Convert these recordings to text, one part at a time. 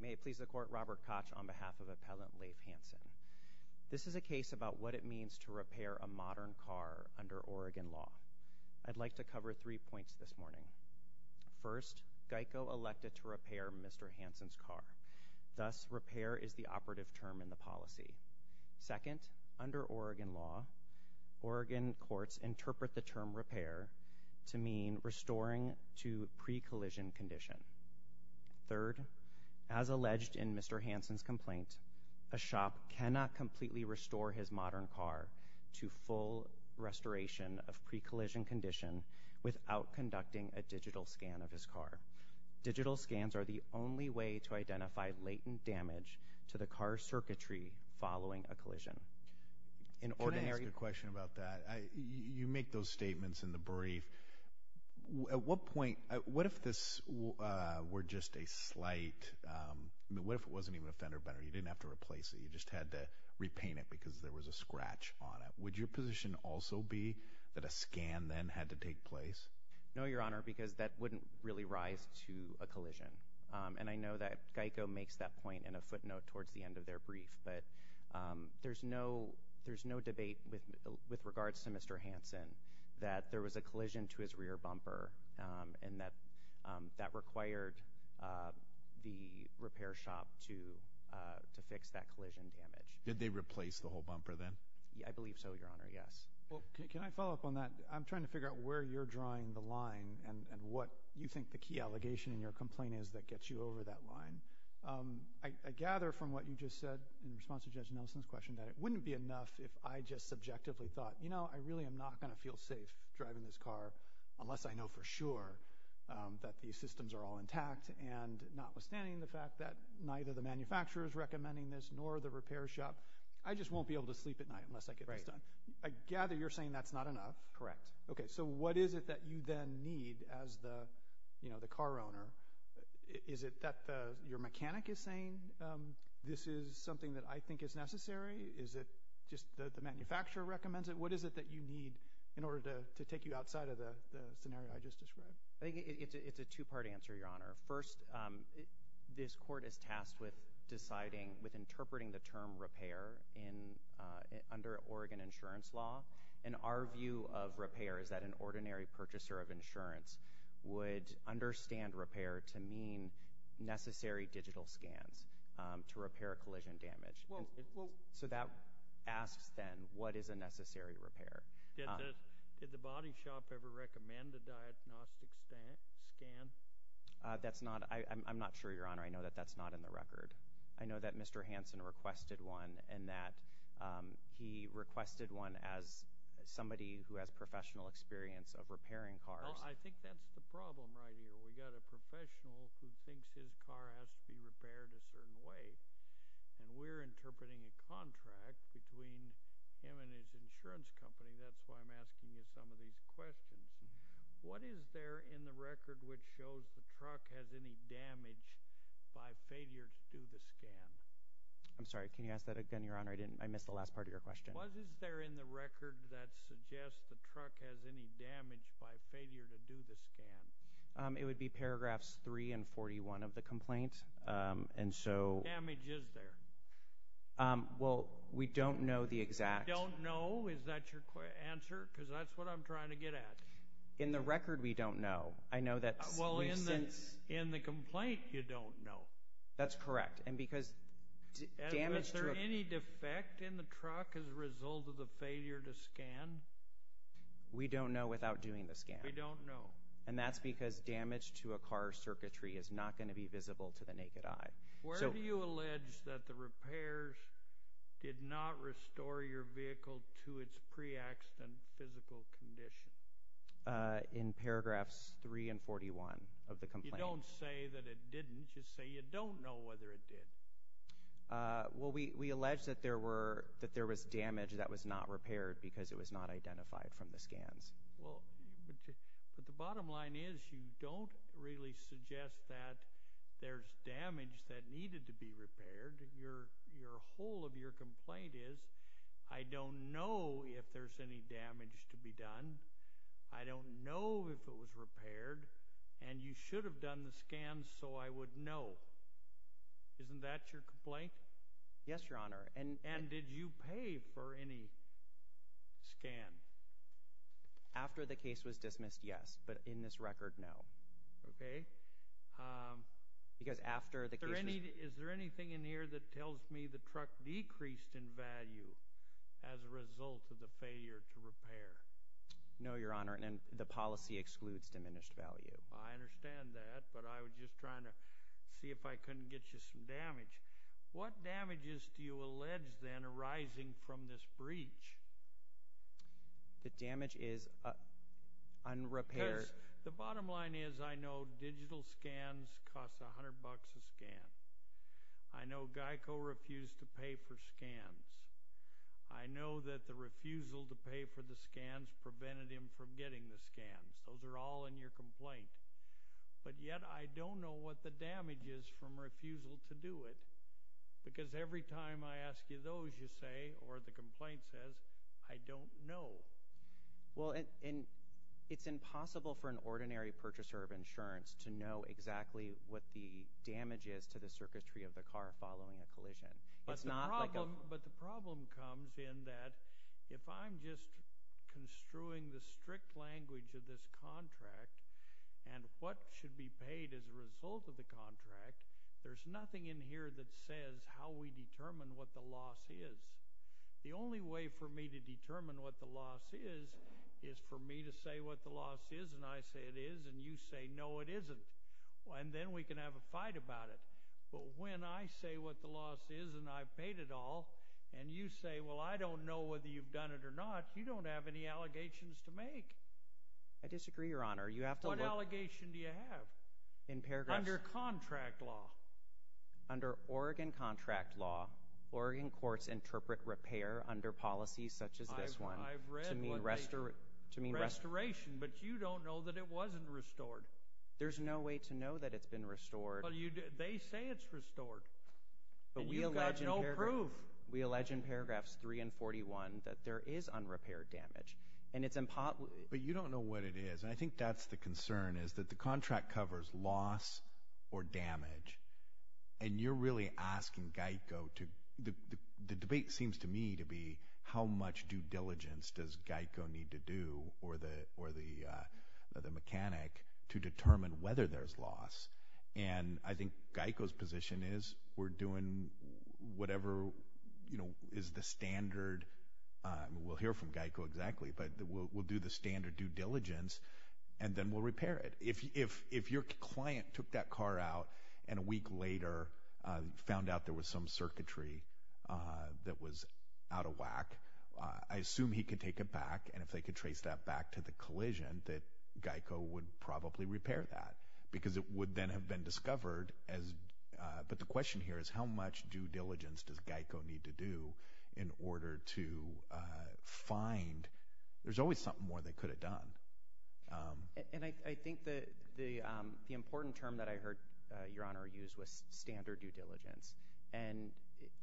May it please the Court, Robert Koch on behalf of Appellant Leif Hansen. This is a case about what it means to repair a modern car under Oregon law. I'd like to cover three points this morning. First, GEICO elected to repair Mr. Hansen's car. Thus, repair is the operative term in the policy. Second, under Oregon law, Oregon courts interpret the term repair to mean restoring to pre-collision condition. Third, as alleged in Mr. Hansen's complaint, a shop cannot completely restore his modern car to full restoration of pre-collision condition without conducting a digital scan of his car. Digital scans are the only way to identify latent damage to the car's circuitry following a collision. Can I ask a question about that? You make those statements in the brief. At what point, what if this were just a slight, what if it wasn't even a fender bender, you didn't have to replace it, you just had to repaint it because there was a scratch on it. Would your position also be that a scan then had to take place? No, Your Honor, because that wouldn't really rise to a collision. And I know that GEICO makes that point in a footnote towards the end of their brief. But there's no debate with regards to Mr. Hansen that there was a collision to his rear bumper and that that required the repair shop to fix that collision damage. Did they replace the whole bumper then? I believe so, Your Honor, yes. Can I follow up on that? I'm trying to figure out where you're drawing the line and what you think the key allegation in your complaint is that gets you over that line. I gather from what you just said in response to Judge Nelson's question that it wouldn't be enough if I just subjectively thought, you know, I really am not going to feel safe driving this car unless I know for sure that these systems are all intact and notwithstanding the fact that neither the manufacturer is recommending this nor the repair shop, I just won't be able to sleep at night unless I get this done. I gather you're saying that's not enough. Correct. Okay, so what is it that you then need as the car owner? Is it that your mechanic is saying this is something that I think is necessary? Is it just that the manufacturer recommends it? What is it that you need in order to take you outside of the scenario I just described? I think it's a two-part answer, Your Honor. First, this court is tasked with deciding, with interpreting the term repair under Oregon insurance law, and our view of repair is that an ordinary purchaser of insurance would understand repair to mean necessary digital scans to repair collision damage. So that asks, then, what is a necessary repair? Did the body shop ever recommend a diagnostic scan? That's not, I'm not sure, Your Honor. I know that that's not in the record. I know that Mr. Hansen requested one and that he requested one as somebody who has professional experience of repairing cars. Well, I think that's the problem right here. We've got a professional who thinks his car has to be repaired a certain way, and we're interpreting a contract between him and his insurance company. That's why I'm asking you some of these questions. What is there in the record which shows the truck has any damage by failure to do the scan? I'm sorry, can you ask that again, Your Honor? I missed the last part of your question. What is there in the record that suggests the truck has any damage by failure to do the scan? It would be paragraphs 3 and 41 of the complaint, and so— What damage is there? Well, we don't know the exact— You don't know? Is that your answer? Because that's what I'm trying to get at. In the record, we don't know. I know that— Well, in the complaint, you don't know. That's correct. Is there any defect in the truck as a result of the failure to scan? We don't know without doing the scan. We don't know. And that's because damage to a car's circuitry is not going to be visible to the naked eye. Where do you allege that the repairs did not restore your vehicle to its pre-accident physical condition? In paragraphs 3 and 41 of the complaint. You don't say that it didn't. You say you don't know whether it did. Well, we allege that there was damage that was not repaired because it was not identified from the scans. Well, but the bottom line is you don't really suggest that there's damage that needed to be repaired. Your whole of your complaint is, I don't know if there's any damage to be done. I don't know if it was repaired. And you should have done the scans so I would know. Isn't that your complaint? Yes, Your Honor. And did you pay for any scans? After the case was dismissed, yes. But in this record, no. Okay. Is there anything in here that tells me the truck decreased in value as a result of the failure to repair? No, Your Honor. The policy excludes diminished value. I understand that, but I was just trying to see if I couldn't get you some damage. What damages do you allege, then, arising from this breach? The damage is unrepaired. Because the bottom line is I know digital scans cost $100 a scan. I know Geico refused to pay for scans. I know that the refusal to pay for the scans prevented him from getting the scans. Those are all in your complaint. But yet I don't know what the damage is from refusal to do it. Because every time I ask you those, you say, or the complaint says, I don't know. Well, it's impossible for an ordinary purchaser of insurance to know exactly what the damage is to the circuitry of the car following a collision. But the problem comes in that if I'm just construing the strict language of this contract and what should be paid as a result of the contract, there's nothing in here that says how we determine what the loss is. The only way for me to determine what the loss is is for me to say what the loss is, and I say it is, and you say no, it isn't. And then we can have a fight about it. But when I say what the loss is and I've paid it all, and you say, well, I don't know whether you've done it or not, you don't have any allegations to make. I disagree, Your Honor. What allegation do you have under contract law? Under Oregon contract law, Oregon courts interpret repair under policies such as this one to mean restoration. But you don't know that it wasn't restored. There's no way to know that it's been restored. But they say it's restored, and you've got no proof. We allege in paragraphs 3 and 41 that there is unrepaired damage. But you don't know what it is, and I think that's the concern, is that the contract covers loss or damage, and you're really asking GEICO to – the debate seems to me to be how much due diligence does GEICO need to do or the mechanic to determine whether there's loss. And I think GEICO's position is we're doing whatever is the standard – we'll hear from GEICO exactly, but we'll do the standard due diligence, and then we'll repair it. If your client took that car out and a week later found out there was some circuitry that was out of whack, I assume he could take it back, and if they could trace that back to the collision, that GEICO would probably repair that because it would then have been discovered. But the question here is how much due diligence does GEICO need to do in order to find – there's always something more they could have done. And I think the important term that I heard Your Honor use was standard due diligence, and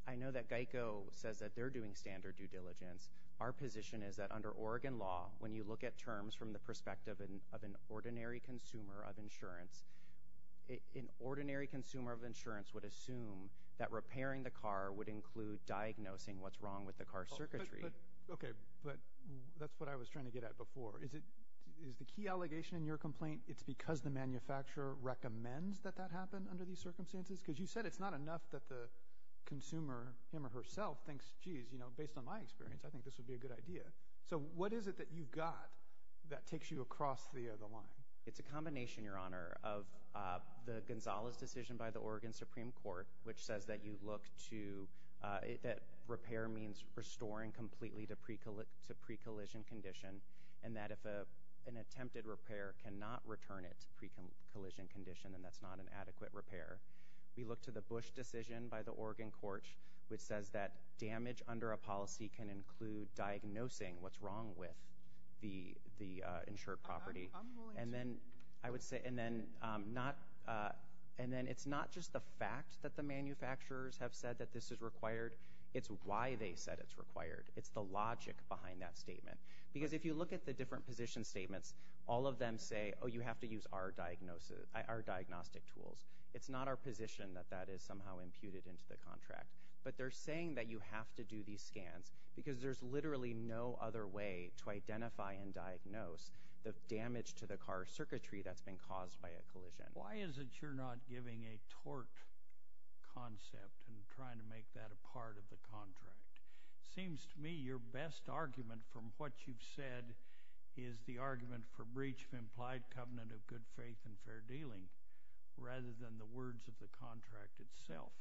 I know that GEICO says that they're doing standard due diligence. Our position is that under Oregon law, when you look at terms from the perspective of an ordinary consumer of insurance, an ordinary consumer of insurance would assume that repairing the car would include diagnosing what's wrong with the car's circuitry. Okay, but that's what I was trying to get at before. Is the key allegation in your complaint it's because the manufacturer recommends that that happen under these circumstances? Because you said it's not enough that the consumer him or herself thinks, geez, based on my experience, I think this would be a good idea. So what is it that you've got that takes you across the other line? It's a combination, Your Honor, of the Gonzales decision by the Oregon Supreme Court, which says that you look to – that repair means restoring completely to pre-collision condition, and that if an attempted repair cannot return it to pre-collision condition, then that's not an adequate repair. We look to the Bush decision by the Oregon court, which says that damage under a policy can include diagnosing what's wrong with the insured property. And then I would say – and then not – and then it's not just the fact that the manufacturers have said that this is required. It's why they said it's required. It's the logic behind that statement. Because if you look at the different position statements, all of them say, oh, you have to use our diagnostic tools. It's not our position that that is somehow imputed into the contract. But they're saying that you have to do these scans because there's literally no other way to identify and diagnose the damage to the car circuitry that's been caused by a collision. Why is it you're not giving a tort concept and trying to make that a part of the contract? It seems to me your best argument from what you've said is the argument for breach of implied covenant of good faith and fair dealing rather than the words of the contract itself.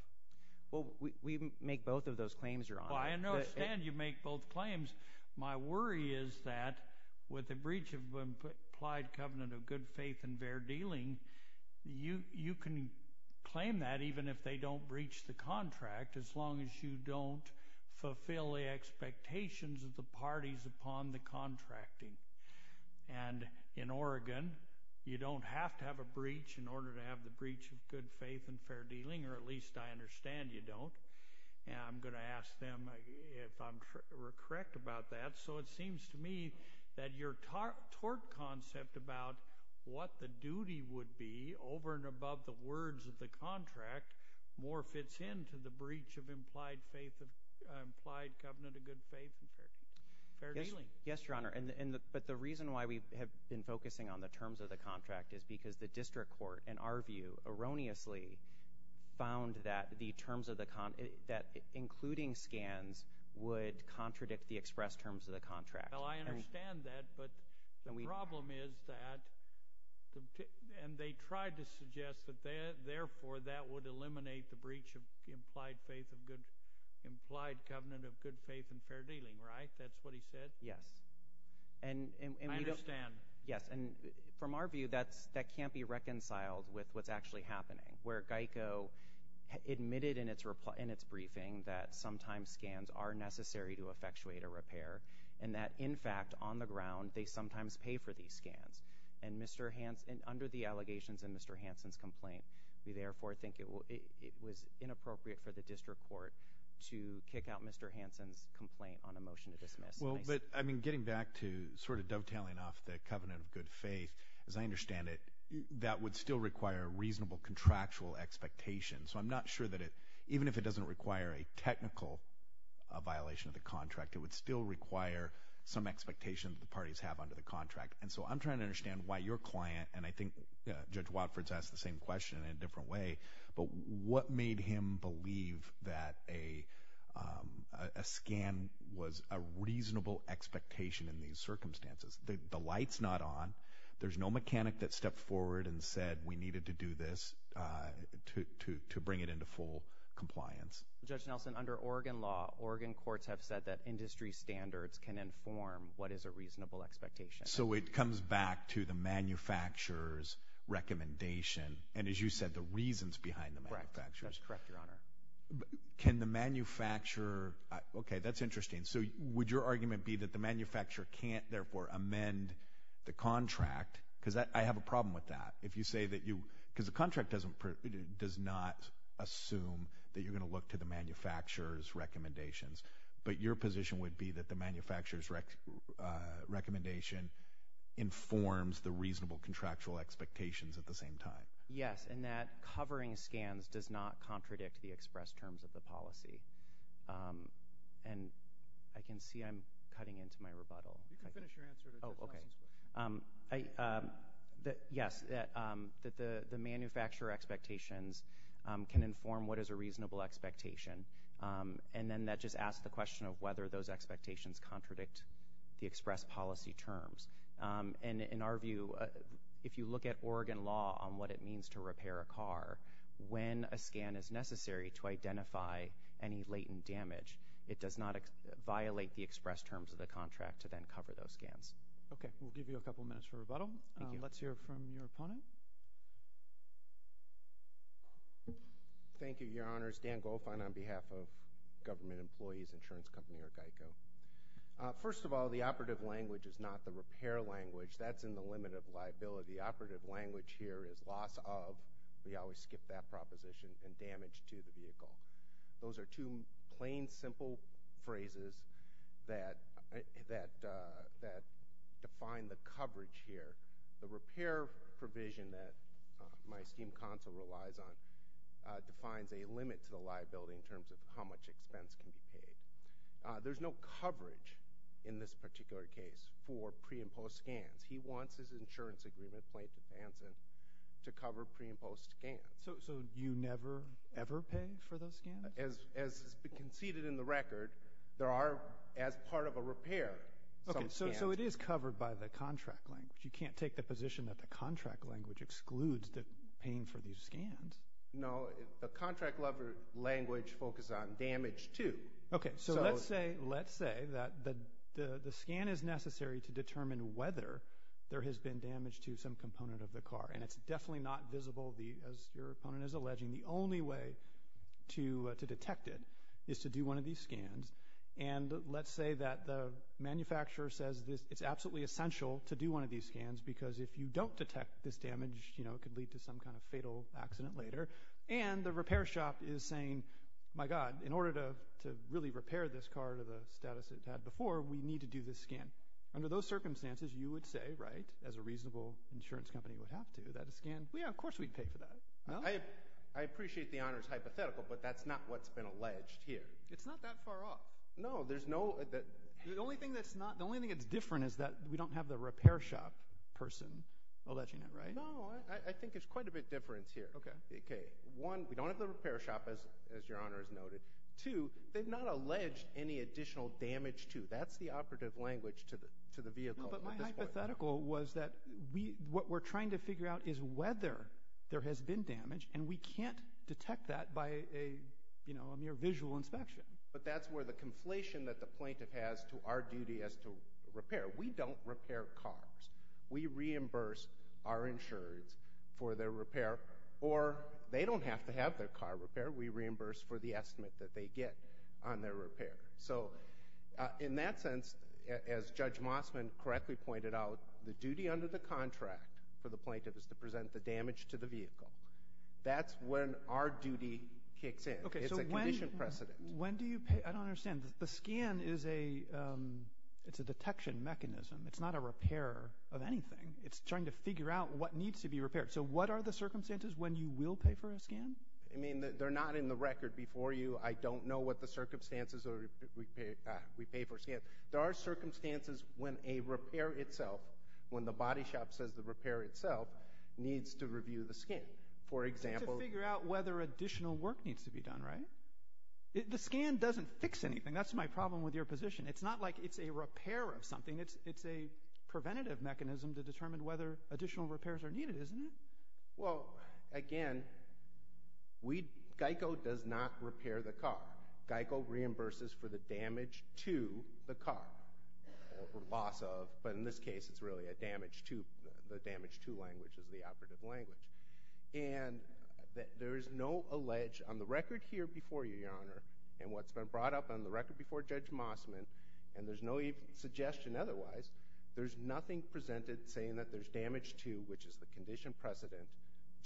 Well, we make both of those claims, Your Honor. Well, I understand you make both claims. My worry is that with the breach of implied covenant of good faith and fair dealing, you can claim that even if they don't breach the contract as long as you don't fulfill the expectations of the parties upon the contracting. And in Oregon, you don't have to have a breach in order to have the breach of good faith and fair dealing, or at least I understand you don't. And I'm going to ask them if I'm correct about that. So it seems to me that your tort concept about what the duty would be over and above the words of the contract more fits into the breach of implied covenant of good faith and fair dealing. Yes, Your Honor. But the reason why we have been focusing on the terms of the contract is because the district court, in our view, erroneously found that the terms of the contract, including scans, would contradict the express terms of the contract. Well, I understand that. But the problem is that they tried to suggest that therefore that would eliminate the breach of implied covenant of good faith and fair dealing. Right? That's what he said? Yes. I understand. Yes. And from our view, that can't be reconciled with what's actually happening, where GEICO admitted in its briefing that sometimes scans are necessary to effectuate a repair and that, in fact, on the ground, they sometimes pay for these scans. And under the allegations in Mr. Hansen's complaint, we therefore think it was inappropriate for the district court to kick out Mr. Hansen's complaint on a motion to dismiss. Well, but, I mean, getting back to sort of dovetailing off the covenant of good faith, as I understand it, that would still require a reasonable contractual expectation. So I'm not sure that it, even if it doesn't require a technical violation of the contract, it would still require some expectation that the parties have under the contract. And so I'm trying to understand why your client, and I think Judge Watford's asked the same question in a different way, but what made him believe that a scan was a reasonable expectation in these circumstances? The light's not on. There's no mechanic that stepped forward and said we needed to do this to bring it into full compliance. Judge Nelson, under Oregon law, Oregon courts have said that industry standards can inform what is a reasonable expectation. So it comes back to the manufacturer's recommendation, and as you said, the reasons behind the manufacturer's recommendation. That's correct, Your Honor. Can the manufacturer, okay, that's interesting. So would your argument be that the manufacturer can't therefore amend the contract? Because I have a problem with that. If you say that you, because the contract does not assume that you're going to look to the manufacturer's recommendations, but your position would be that the manufacturer's recommendation informs the reasonable contractual expectations at the same time? Yes, and that covering scans does not contradict the express terms of the policy. And I can see I'm cutting into my rebuttal. You can finish your answer. Oh, okay. Yes, that the manufacturer expectations can inform what is a reasonable expectation, and then that just asks the question of whether those expectations contradict the express policy terms. And in our view, if you look at Oregon law on what it means to repair a car, when a scan is necessary to identify any latent damage, it does not violate the express terms of the contract to then cover those scans. Okay, we'll give you a couple minutes for rebuttal. Let's hear from your opponent. Thank you, Your Honors. Dan Goldfein on behalf of Government Employees Insurance Company, or GEICO. First of all, the operative language is not the repair language. That's in the limit of liability. Operative language here is loss of. We always skip that proposition. And damage to the vehicle. Those are two plain, simple phrases that define the coverage here. The repair provision that my scheme counsel relies on defines a limit to the liability in terms of how much expense can be paid. There's no coverage in this particular case for pre- and post-scans. He wants his insurance agreement, plaintiff's answer, to cover pre- and post-scans. So you never, ever pay for those scans? As conceded in the record, there are, as part of a repair, some scans. So it is covered by the contract language. You can't take the position that the contract language excludes the paying for these scans. No, the contract language focuses on damage, too. Okay, so let's say that the scan is necessary to determine whether there has been damage to some component of the car. And it's definitely not visible, as your opponent is alleging. The only way to detect it is to do one of these scans. And let's say that the manufacturer says it's absolutely essential to do one of these scans because if you don't detect this damage, you know, it could lead to some kind of fatal accident later. And the repair shop is saying, my God, in order to really repair this car to the status it had before, we need to do this scan. Under those circumstances, you would say, right, as a reasonable insurance company would have to, that a scan – well, yeah, of course we'd pay for that. I appreciate the honor's hypothetical, but that's not what's been alleged here. It's not that far off. No, there's no – the only thing that's different is that we don't have the repair shop person alleging it, right? No, I think it's quite a bit different here. Okay. One, we don't have the repair shop, as your honor has noted. Two, they've not alleged any additional damage to – that's the operative language to the vehicle at this point. No, but my hypothetical was that what we're trying to figure out is whether there has been damage, and we can't detect that by a mere visual inspection. But that's where the conflation that the plaintiff has to our duty as to repair. We don't repair cars. We reimburse our insurers for their repair, or they don't have to have their car repaired. We reimburse for the estimate that they get on their repair. In that sense, as Judge Mossman correctly pointed out, the duty under the contract for the plaintiff is to present the damage to the vehicle. That's when our duty kicks in. It's a condition precedent. When do you pay? I don't understand. The scan is a detection mechanism. It's not a repair of anything. It's trying to figure out what needs to be repaired. So what are the circumstances when you will pay for a scan? I mean, they're not in the record before you. I don't know what the circumstances are if we pay for a scan. There are circumstances when a repair itself, when the body shop says the repair itself, needs to review the scan. It's to figure out whether additional work needs to be done, right? The scan doesn't fix anything. That's my problem with your position. It's not like it's a repair of something. It's a preventative mechanism to determine whether additional repairs are needed, isn't it? Well, again, GEICO does not repair the car. GEICO reimburses for the damage to the car, or loss of. But in this case, it's really a damage to. The damage to language is the operative language. And there is no allege on the record here before you, Your Honor, and what's been brought up on the record before Judge Mossman, and there's no suggestion otherwise, there's nothing presented saying that there's damage to, which is the condition precedent,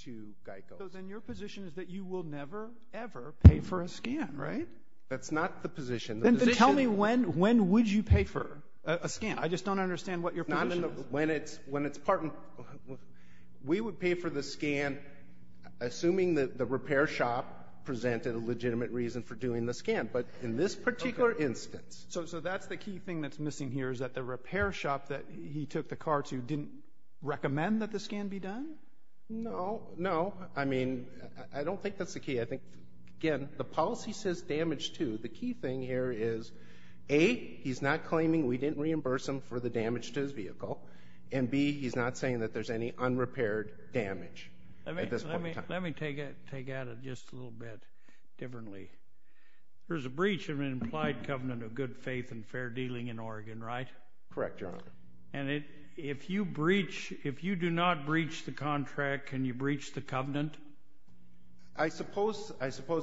to GEICO. So then your position is that you will never, ever pay for a scan, right? That's not the position. Then tell me when would you pay for a scan? I just don't understand what your position is. When it's part and parcel. We would pay for the scan assuming that the repair shop presented a legitimate reason for doing the scan. But in this particular instance. So that's the key thing that's missing here is that the repair shop that he took the car to didn't recommend that the scan be done? No, no. I mean, I don't think that's the key. I think, again, the policy says damage to. The key thing here is, A, he's not claiming we didn't reimburse him for the damage to his vehicle, and, B, he's not saying that there's any unrepaired damage at this point in time. Let me take at it just a little bit differently. There's a breach of an implied covenant of good faith and fair dealing in Oregon, right? Correct, Your Honor. And if you breach, if you do not breach the contract, can you breach the covenant? I suppose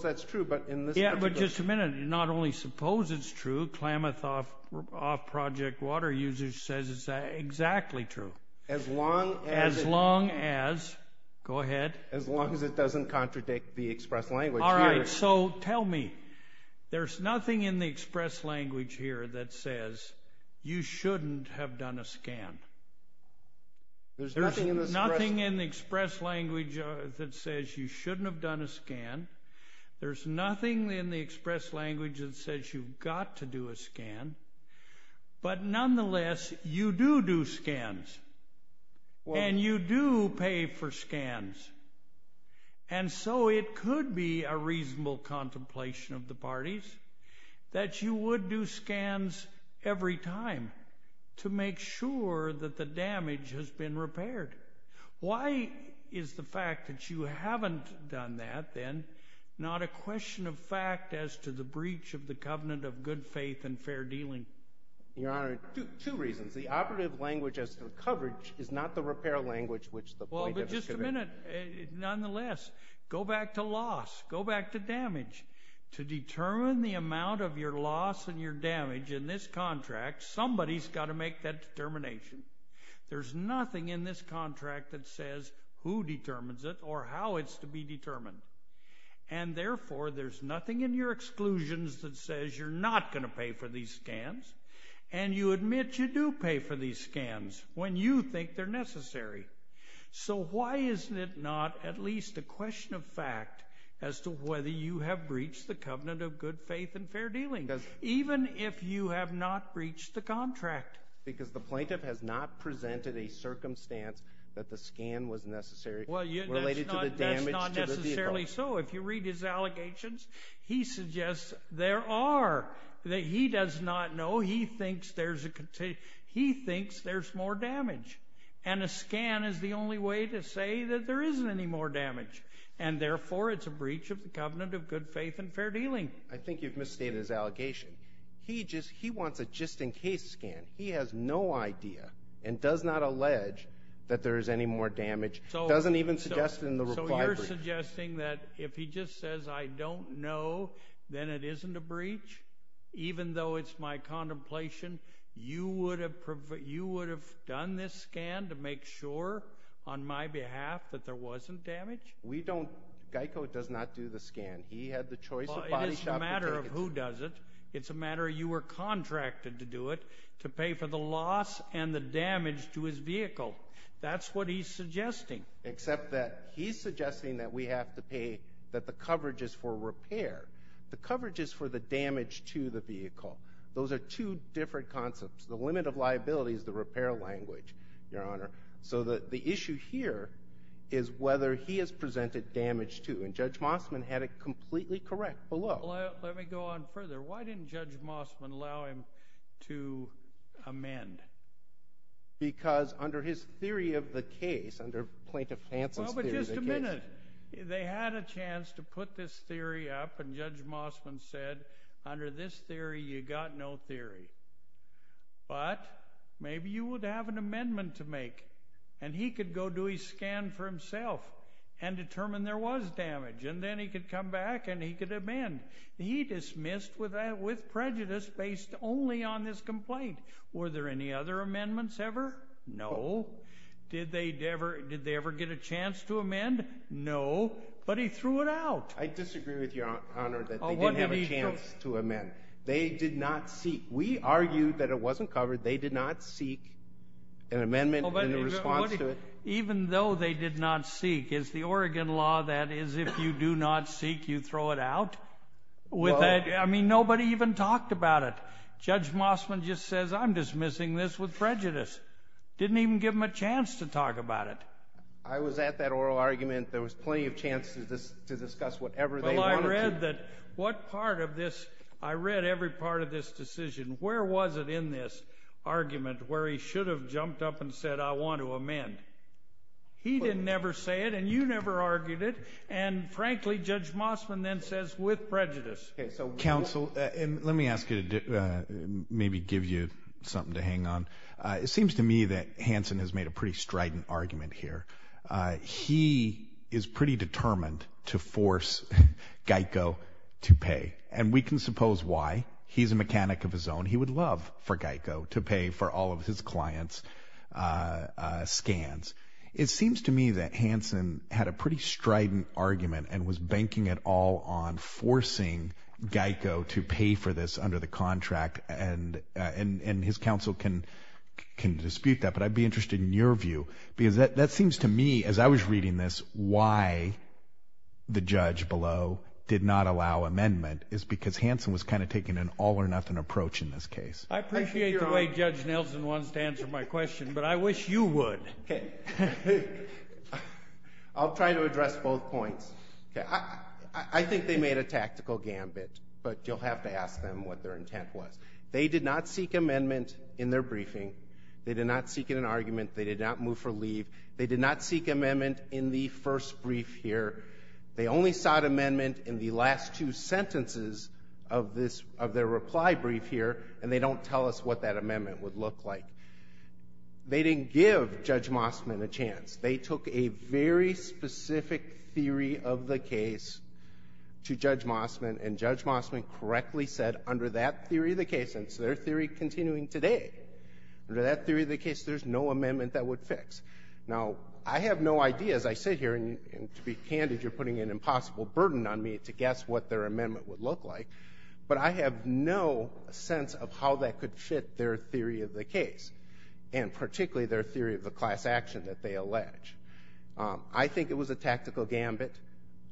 that's true, but in this particular. Yeah, but just a minute. Not only suppose it's true, Klamath off-project water usage says it's exactly true. As long as. As long as. Go ahead. As long as it doesn't contradict the express language. All right, so tell me. There's nothing in the express language here that says you shouldn't have done a scan. There's nothing in the express language that says you shouldn't have done a scan. There's nothing in the express language that says you've got to do a scan. But, nonetheless, you do do scans. And you do pay for scans. And so it could be a reasonable contemplation of the parties that you would do scans every time to make sure that the damage has been repaired. Why is the fact that you haven't done that, then, not a question of fact as to the breach of the covenant of good faith and fair dealing? Your Honor, two reasons. The operative language as to coverage is not the repair language which the plaintiff is conveying. But, nonetheless, go back to loss. Go back to damage. To determine the amount of your loss and your damage in this contract, somebody's got to make that determination. There's nothing in this contract that says who determines it or how it's to be determined. And, therefore, there's nothing in your exclusions that says you're not going to pay for these scans. And you admit you do pay for these scans when you think they're necessary. So why is it not at least a question of fact as to whether you have breached the covenant of good faith and fair dealing, even if you have not breached the contract? Because the plaintiff has not presented a circumstance that the scan was necessary related to the damage to the vehicle. Well, that's not necessarily so. If you read his allegations, he suggests there are. He does not know. He thinks there's more damage. And a scan is the only way to say that there isn't any more damage. And, therefore, it's a breach of the covenant of good faith and fair dealing. I think you've misstated his allegation. He wants a just-in-case scan. He has no idea and does not allege that there is any more damage. He doesn't even suggest it in the reply brief. So you're suggesting that if he just says, I don't know, then it isn't a breach? Even though it's my contemplation, you would have done this scan to make sure, on my behalf, that there wasn't damage? We don't. Geico does not do the scan. He had the choice of body shop. It is a matter of who does it. It's a matter of you were contracted to do it, to pay for the loss and the damage to his vehicle. That's what he's suggesting. Except that he's suggesting that we have to pay, that the coverage is for repair. The coverage is for the damage to the vehicle. Those are two different concepts. The limit of liability is the repair language, Your Honor. So the issue here is whether he has presented damage to. And Judge Mossman had it completely correct below. Let me go on further. Why didn't Judge Mossman allow him to amend? Because under his theory of the case, under Plaintiff Hanson's theory of the case. Well, but just a minute. They had a chance to put this theory up, and Judge Mossman said, under this theory, you got no theory. But maybe you would have an amendment to make. And he could go do a scan for himself and determine there was damage. And then he could come back and he could amend. He dismissed with prejudice based only on this complaint. Were there any other amendments ever? No. Did they ever get a chance to amend? No. But he threw it out. I disagree with you, Your Honor, that they didn't have a chance to amend. They did not seek. We argued that it wasn't covered. They did not seek an amendment in response to it. Even though they did not seek. Is the Oregon law that is if you do not seek, you throw it out? I mean, nobody even talked about it. Judge Mossman just says, I'm dismissing this with prejudice. Didn't even give them a chance to talk about it. I was at that oral argument. There was plenty of chance to discuss whatever they wanted to. Well, I read that what part of this, I read every part of this decision. Where was it in this argument where he should have jumped up and said, I want to amend? He didn't ever say it, and you never argued it. And, frankly, Judge Mossman then says, with prejudice. Okay, so counsel, let me ask you to maybe give you something to hang on. It seems to me that Hanson has made a pretty strident argument here. He is pretty determined to force Geico to pay. And we can suppose why. He's a mechanic of his own. He would love for Geico to pay for all of his clients' scans. It seems to me that Hanson had a pretty strident argument and was banking it all on forcing Geico to pay for this under the contract. And his counsel can dispute that, but I'd be interested in your view. Because that seems to me, as I was reading this, why the judge below did not allow amendment is because Hanson was kind of taking an all-or-nothing approach in this case. I appreciate the way Judge Nelson wants to answer my question, but I wish you would. I'll try to address both points. I think they made a tactical gambit, but you'll have to ask them what their intent was. They did not seek amendment in their briefing. They did not seek it in an argument. They did not move for leave. They did not seek amendment in the first brief here. They only sought amendment in the last two sentences of their reply brief here, and they don't tell us what that amendment would look like. They didn't give Judge Mossman a chance. They took a very specific theory of the case to Judge Mossman, and Judge Mossman correctly said under that theory of the case, and it's their theory continuing today, under that theory of the case there's no amendment that would fix. Now, I have no idea, as I sit here, and to be candid, you're putting an impossible burden on me to guess what their amendment would look like, but I have no sense of how that could fit their theory of the case, and particularly their theory of the class action that they allege. I think it was a tactical gambit.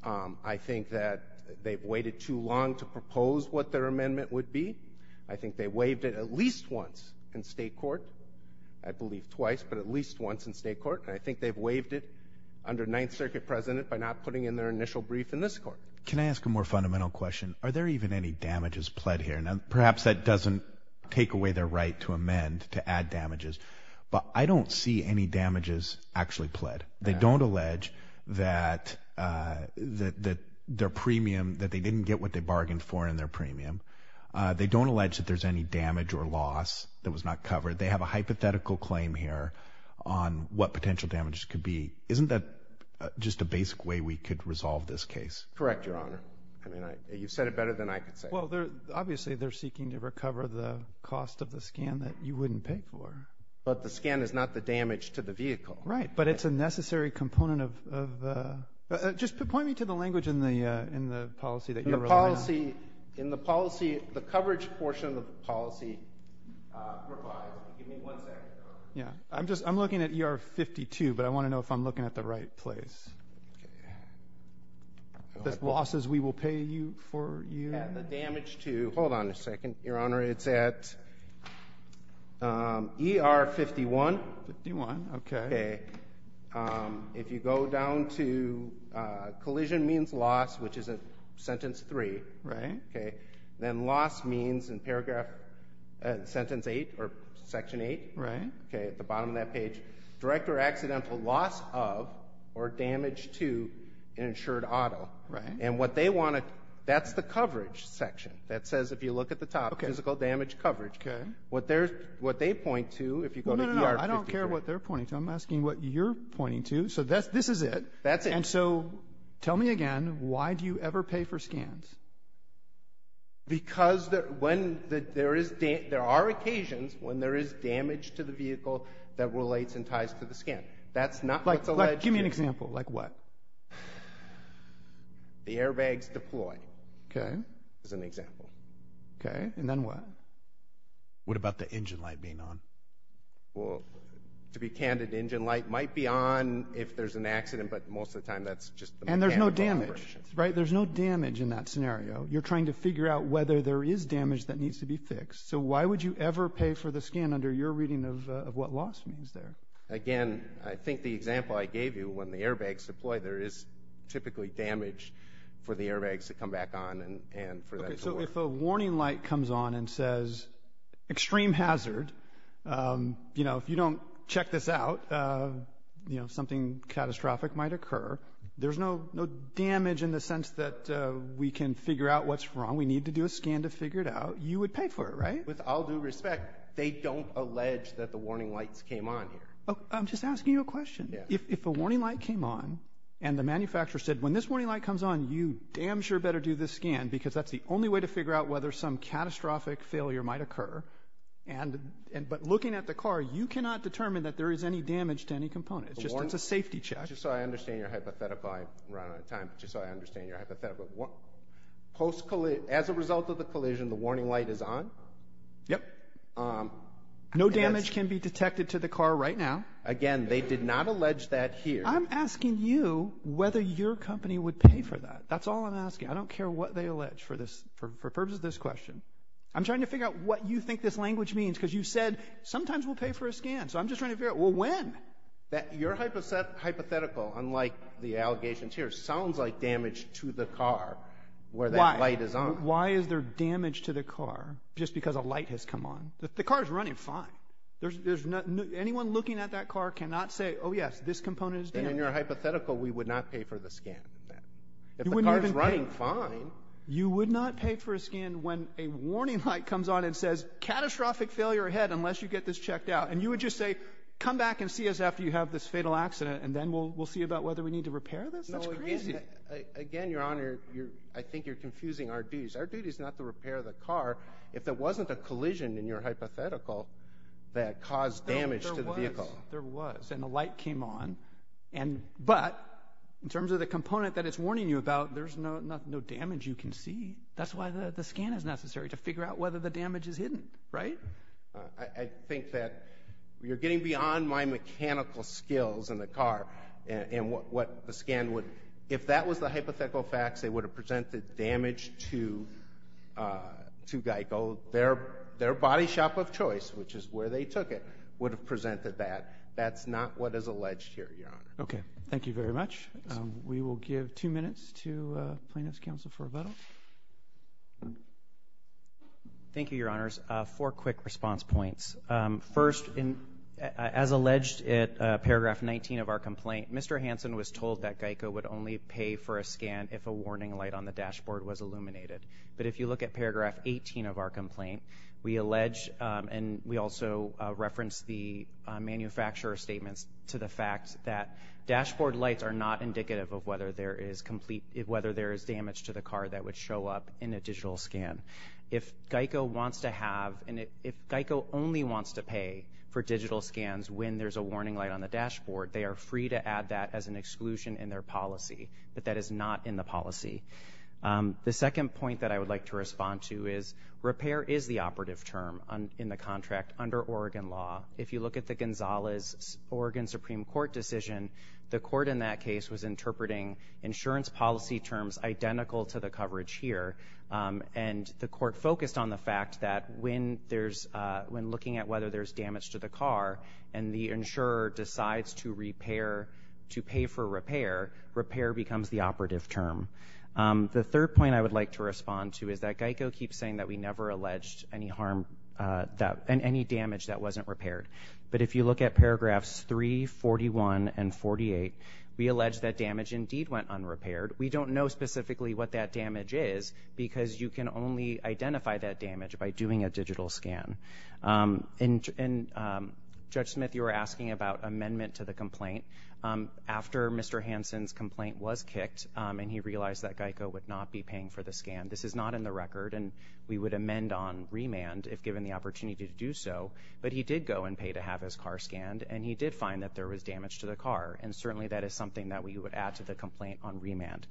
I think that they've waited too long to propose what their amendment would be. I think they waived it at least once in state court, I believe twice, but at least once in state court, and I think they've waived it under 9th Circuit precedent by not putting in their initial brief in this court. Can I ask a more fundamental question? Are there even any damages pled here? Perhaps that doesn't take away their right to amend, to add damages, but I don't see any damages actually pled. They don't allege that their premium, that they didn't get what they bargained for in their premium. They don't allege that there's any damage or loss that was not covered. They have a hypothetical claim here on what potential damages could be. Isn't that just a basic way we could resolve this case? Correct, Your Honor. You've said it better than I could say. Well, obviously they're seeking to recover the cost of the scan that you wouldn't pay for. But the scan is not the damage to the vehicle. Right, but it's a necessary component of the – just point me to the language in the policy that you're relying on. In the policy, the coverage portion of the policy provides – give me one second, Your Honor. I'm looking at ER 52, but I want to know if I'm looking at the right place. The losses we will pay you for? Yeah, the damage to – hold on a second, Your Honor. It's at ER 51. 51, okay. If you go down to – collision means loss, which is at sentence 3. Right. Then loss means in paragraph – sentence 8 or section 8. Right. Okay, at the bottom of that page, direct or accidental loss of or damage to an insured auto. Right. And what they want to – that's the coverage section that says, if you look at the top, physical damage coverage. Okay. What they point to, if you go to ER 52. No, no, no. I don't care what they're pointing to. I'm asking what you're pointing to. So this is it. That's it. And so tell me again, why do you ever pay for scans? Because when – there are occasions when there is damage to the vehicle that relates and ties to the scan. That's not what's alleged here. Give me an example. Like what? The airbags deploy. Okay. As an example. Okay, and then what? What about the engine light being on? Well, to be candid, the engine light might be on if there's an accident, but most of the time that's just the mechanical conversion. And there's no damage. Right? There's no damage in that scenario. You're trying to figure out whether there is damage that needs to be fixed. So why would you ever pay for the scan under your reading of what loss means there? Again, I think the example I gave you, when the airbags deploy, there is typically damage for the airbags to come back on and for that to work. Okay, so if a warning light comes on and says, extreme hazard, you know, if you don't check this out, you know, something catastrophic might occur, there's no damage in the sense that we can figure out what's wrong. We need to do a scan to figure it out. You would pay for it, right? With all due respect, they don't allege that the warning lights came on here. I'm just asking you a question. If a warning light came on and the manufacturer said, when this warning light comes on, you damn sure better do this scan, because that's the only way to figure out whether some catastrophic failure might occur. But looking at the car, you cannot determine that there is any damage to any component. It's just a safety check. Just so I understand your hypothetical, I'm running out of time, but just so I understand your hypothetical, as a result of the collision, the warning light is on? Yep. No damage can be detected to the car right now? Again, they did not allege that here. I'm asking you whether your company would pay for that. That's all I'm asking. I don't care what they allege for the purpose of this question. I'm trying to figure out what you think this language means, because you said, sometimes we'll pay for a scan. So I'm just trying to figure out, well, when? Your hypothetical, unlike the allegations here, sounds like damage to the car where that light is on. Why? Why is there damage to the car just because a light has come on? The car is running fine. Anyone looking at that car cannot say, oh, yes, this component is damaged. Then in your hypothetical, we would not pay for the scan. If the car is running fine. You would not pay for a scan when a warning light comes on and says, catastrophic failure ahead unless you get this checked out. And you would just say, come back and see us after you have this fatal accident, and then we'll see about whether we need to repair this? That's crazy. Again, Your Honor, I think you're confusing our duties. Our duty is not to repair the car. If there wasn't a collision in your hypothetical that caused damage to the vehicle. There was, and the light came on. But in terms of the component that it's warning you about, there's no damage you can see. That's why the scan is necessary, to figure out whether the damage is hidden. Right? I think that you're getting beyond my mechanical skills in the car. And what the scan would, if that was the hypothetical facts, they would have presented damage to Geico. Their body shop of choice, which is where they took it, would have presented that. That's not what is alleged here, Your Honor. Okay. Thank you very much. We will give two minutes to plaintiff's counsel for rebuttal. Thank you, Your Honors. Four quick response points. First, as alleged at paragraph 19 of our complaint, Mr. Hansen was told that Geico would only pay for a scan if a warning light on the dashboard was illuminated. But if you look at paragraph 18 of our complaint, we allege, and we also reference the manufacturer's statements to the fact that dashboard lights are not indicative of whether there is complete, whether there is damage to the car that would show up in a digital scan. If Geico wants to have, and if Geico only wants to pay for digital scans when there's a warning light on the dashboard, they are free to add that as an exclusion in their policy. But that is not in the policy. The second point that I would like to respond to is, repair is the operative term in the contract under Oregon law. If you look at the Gonzalez Oregon Supreme Court decision, the court in that case was interpreting insurance policy terms identical to the coverage here. And the court focused on the fact that when there's, when looking at whether there's damage to the car and the insurer decides to repair, to pay for repair, repair becomes the operative term. The third point I would like to respond to is that Geico keeps saying that we never alleged any harm that, and any damage that wasn't repaired. But if you look at paragraphs 3, 41, and 48, we allege that damage indeed went unrepaired. We don't know specifically what that damage is, because you can only identify that damage by doing a digital scan. And Judge Smith, you were asking about amendment to the complaint. After Mr. Hansen's complaint was kicked, and he realized that Geico would not be paying for the scan, this is not in the record, and we would amend on remand if given the opportunity to do so. But he did go and pay to have his car scanned, and he did find that there was damage to the car. And certainly that is something that we would add to the complaint on remand.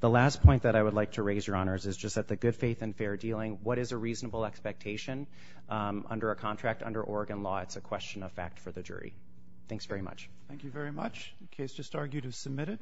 The last point that I would like to raise, Your Honors, is just that the good faith and fair dealing, what is a reasonable expectation under a contract under Oregon law? It's a question of fact for the jury. Thanks very much. Thank you very much. The case just argued is submitted.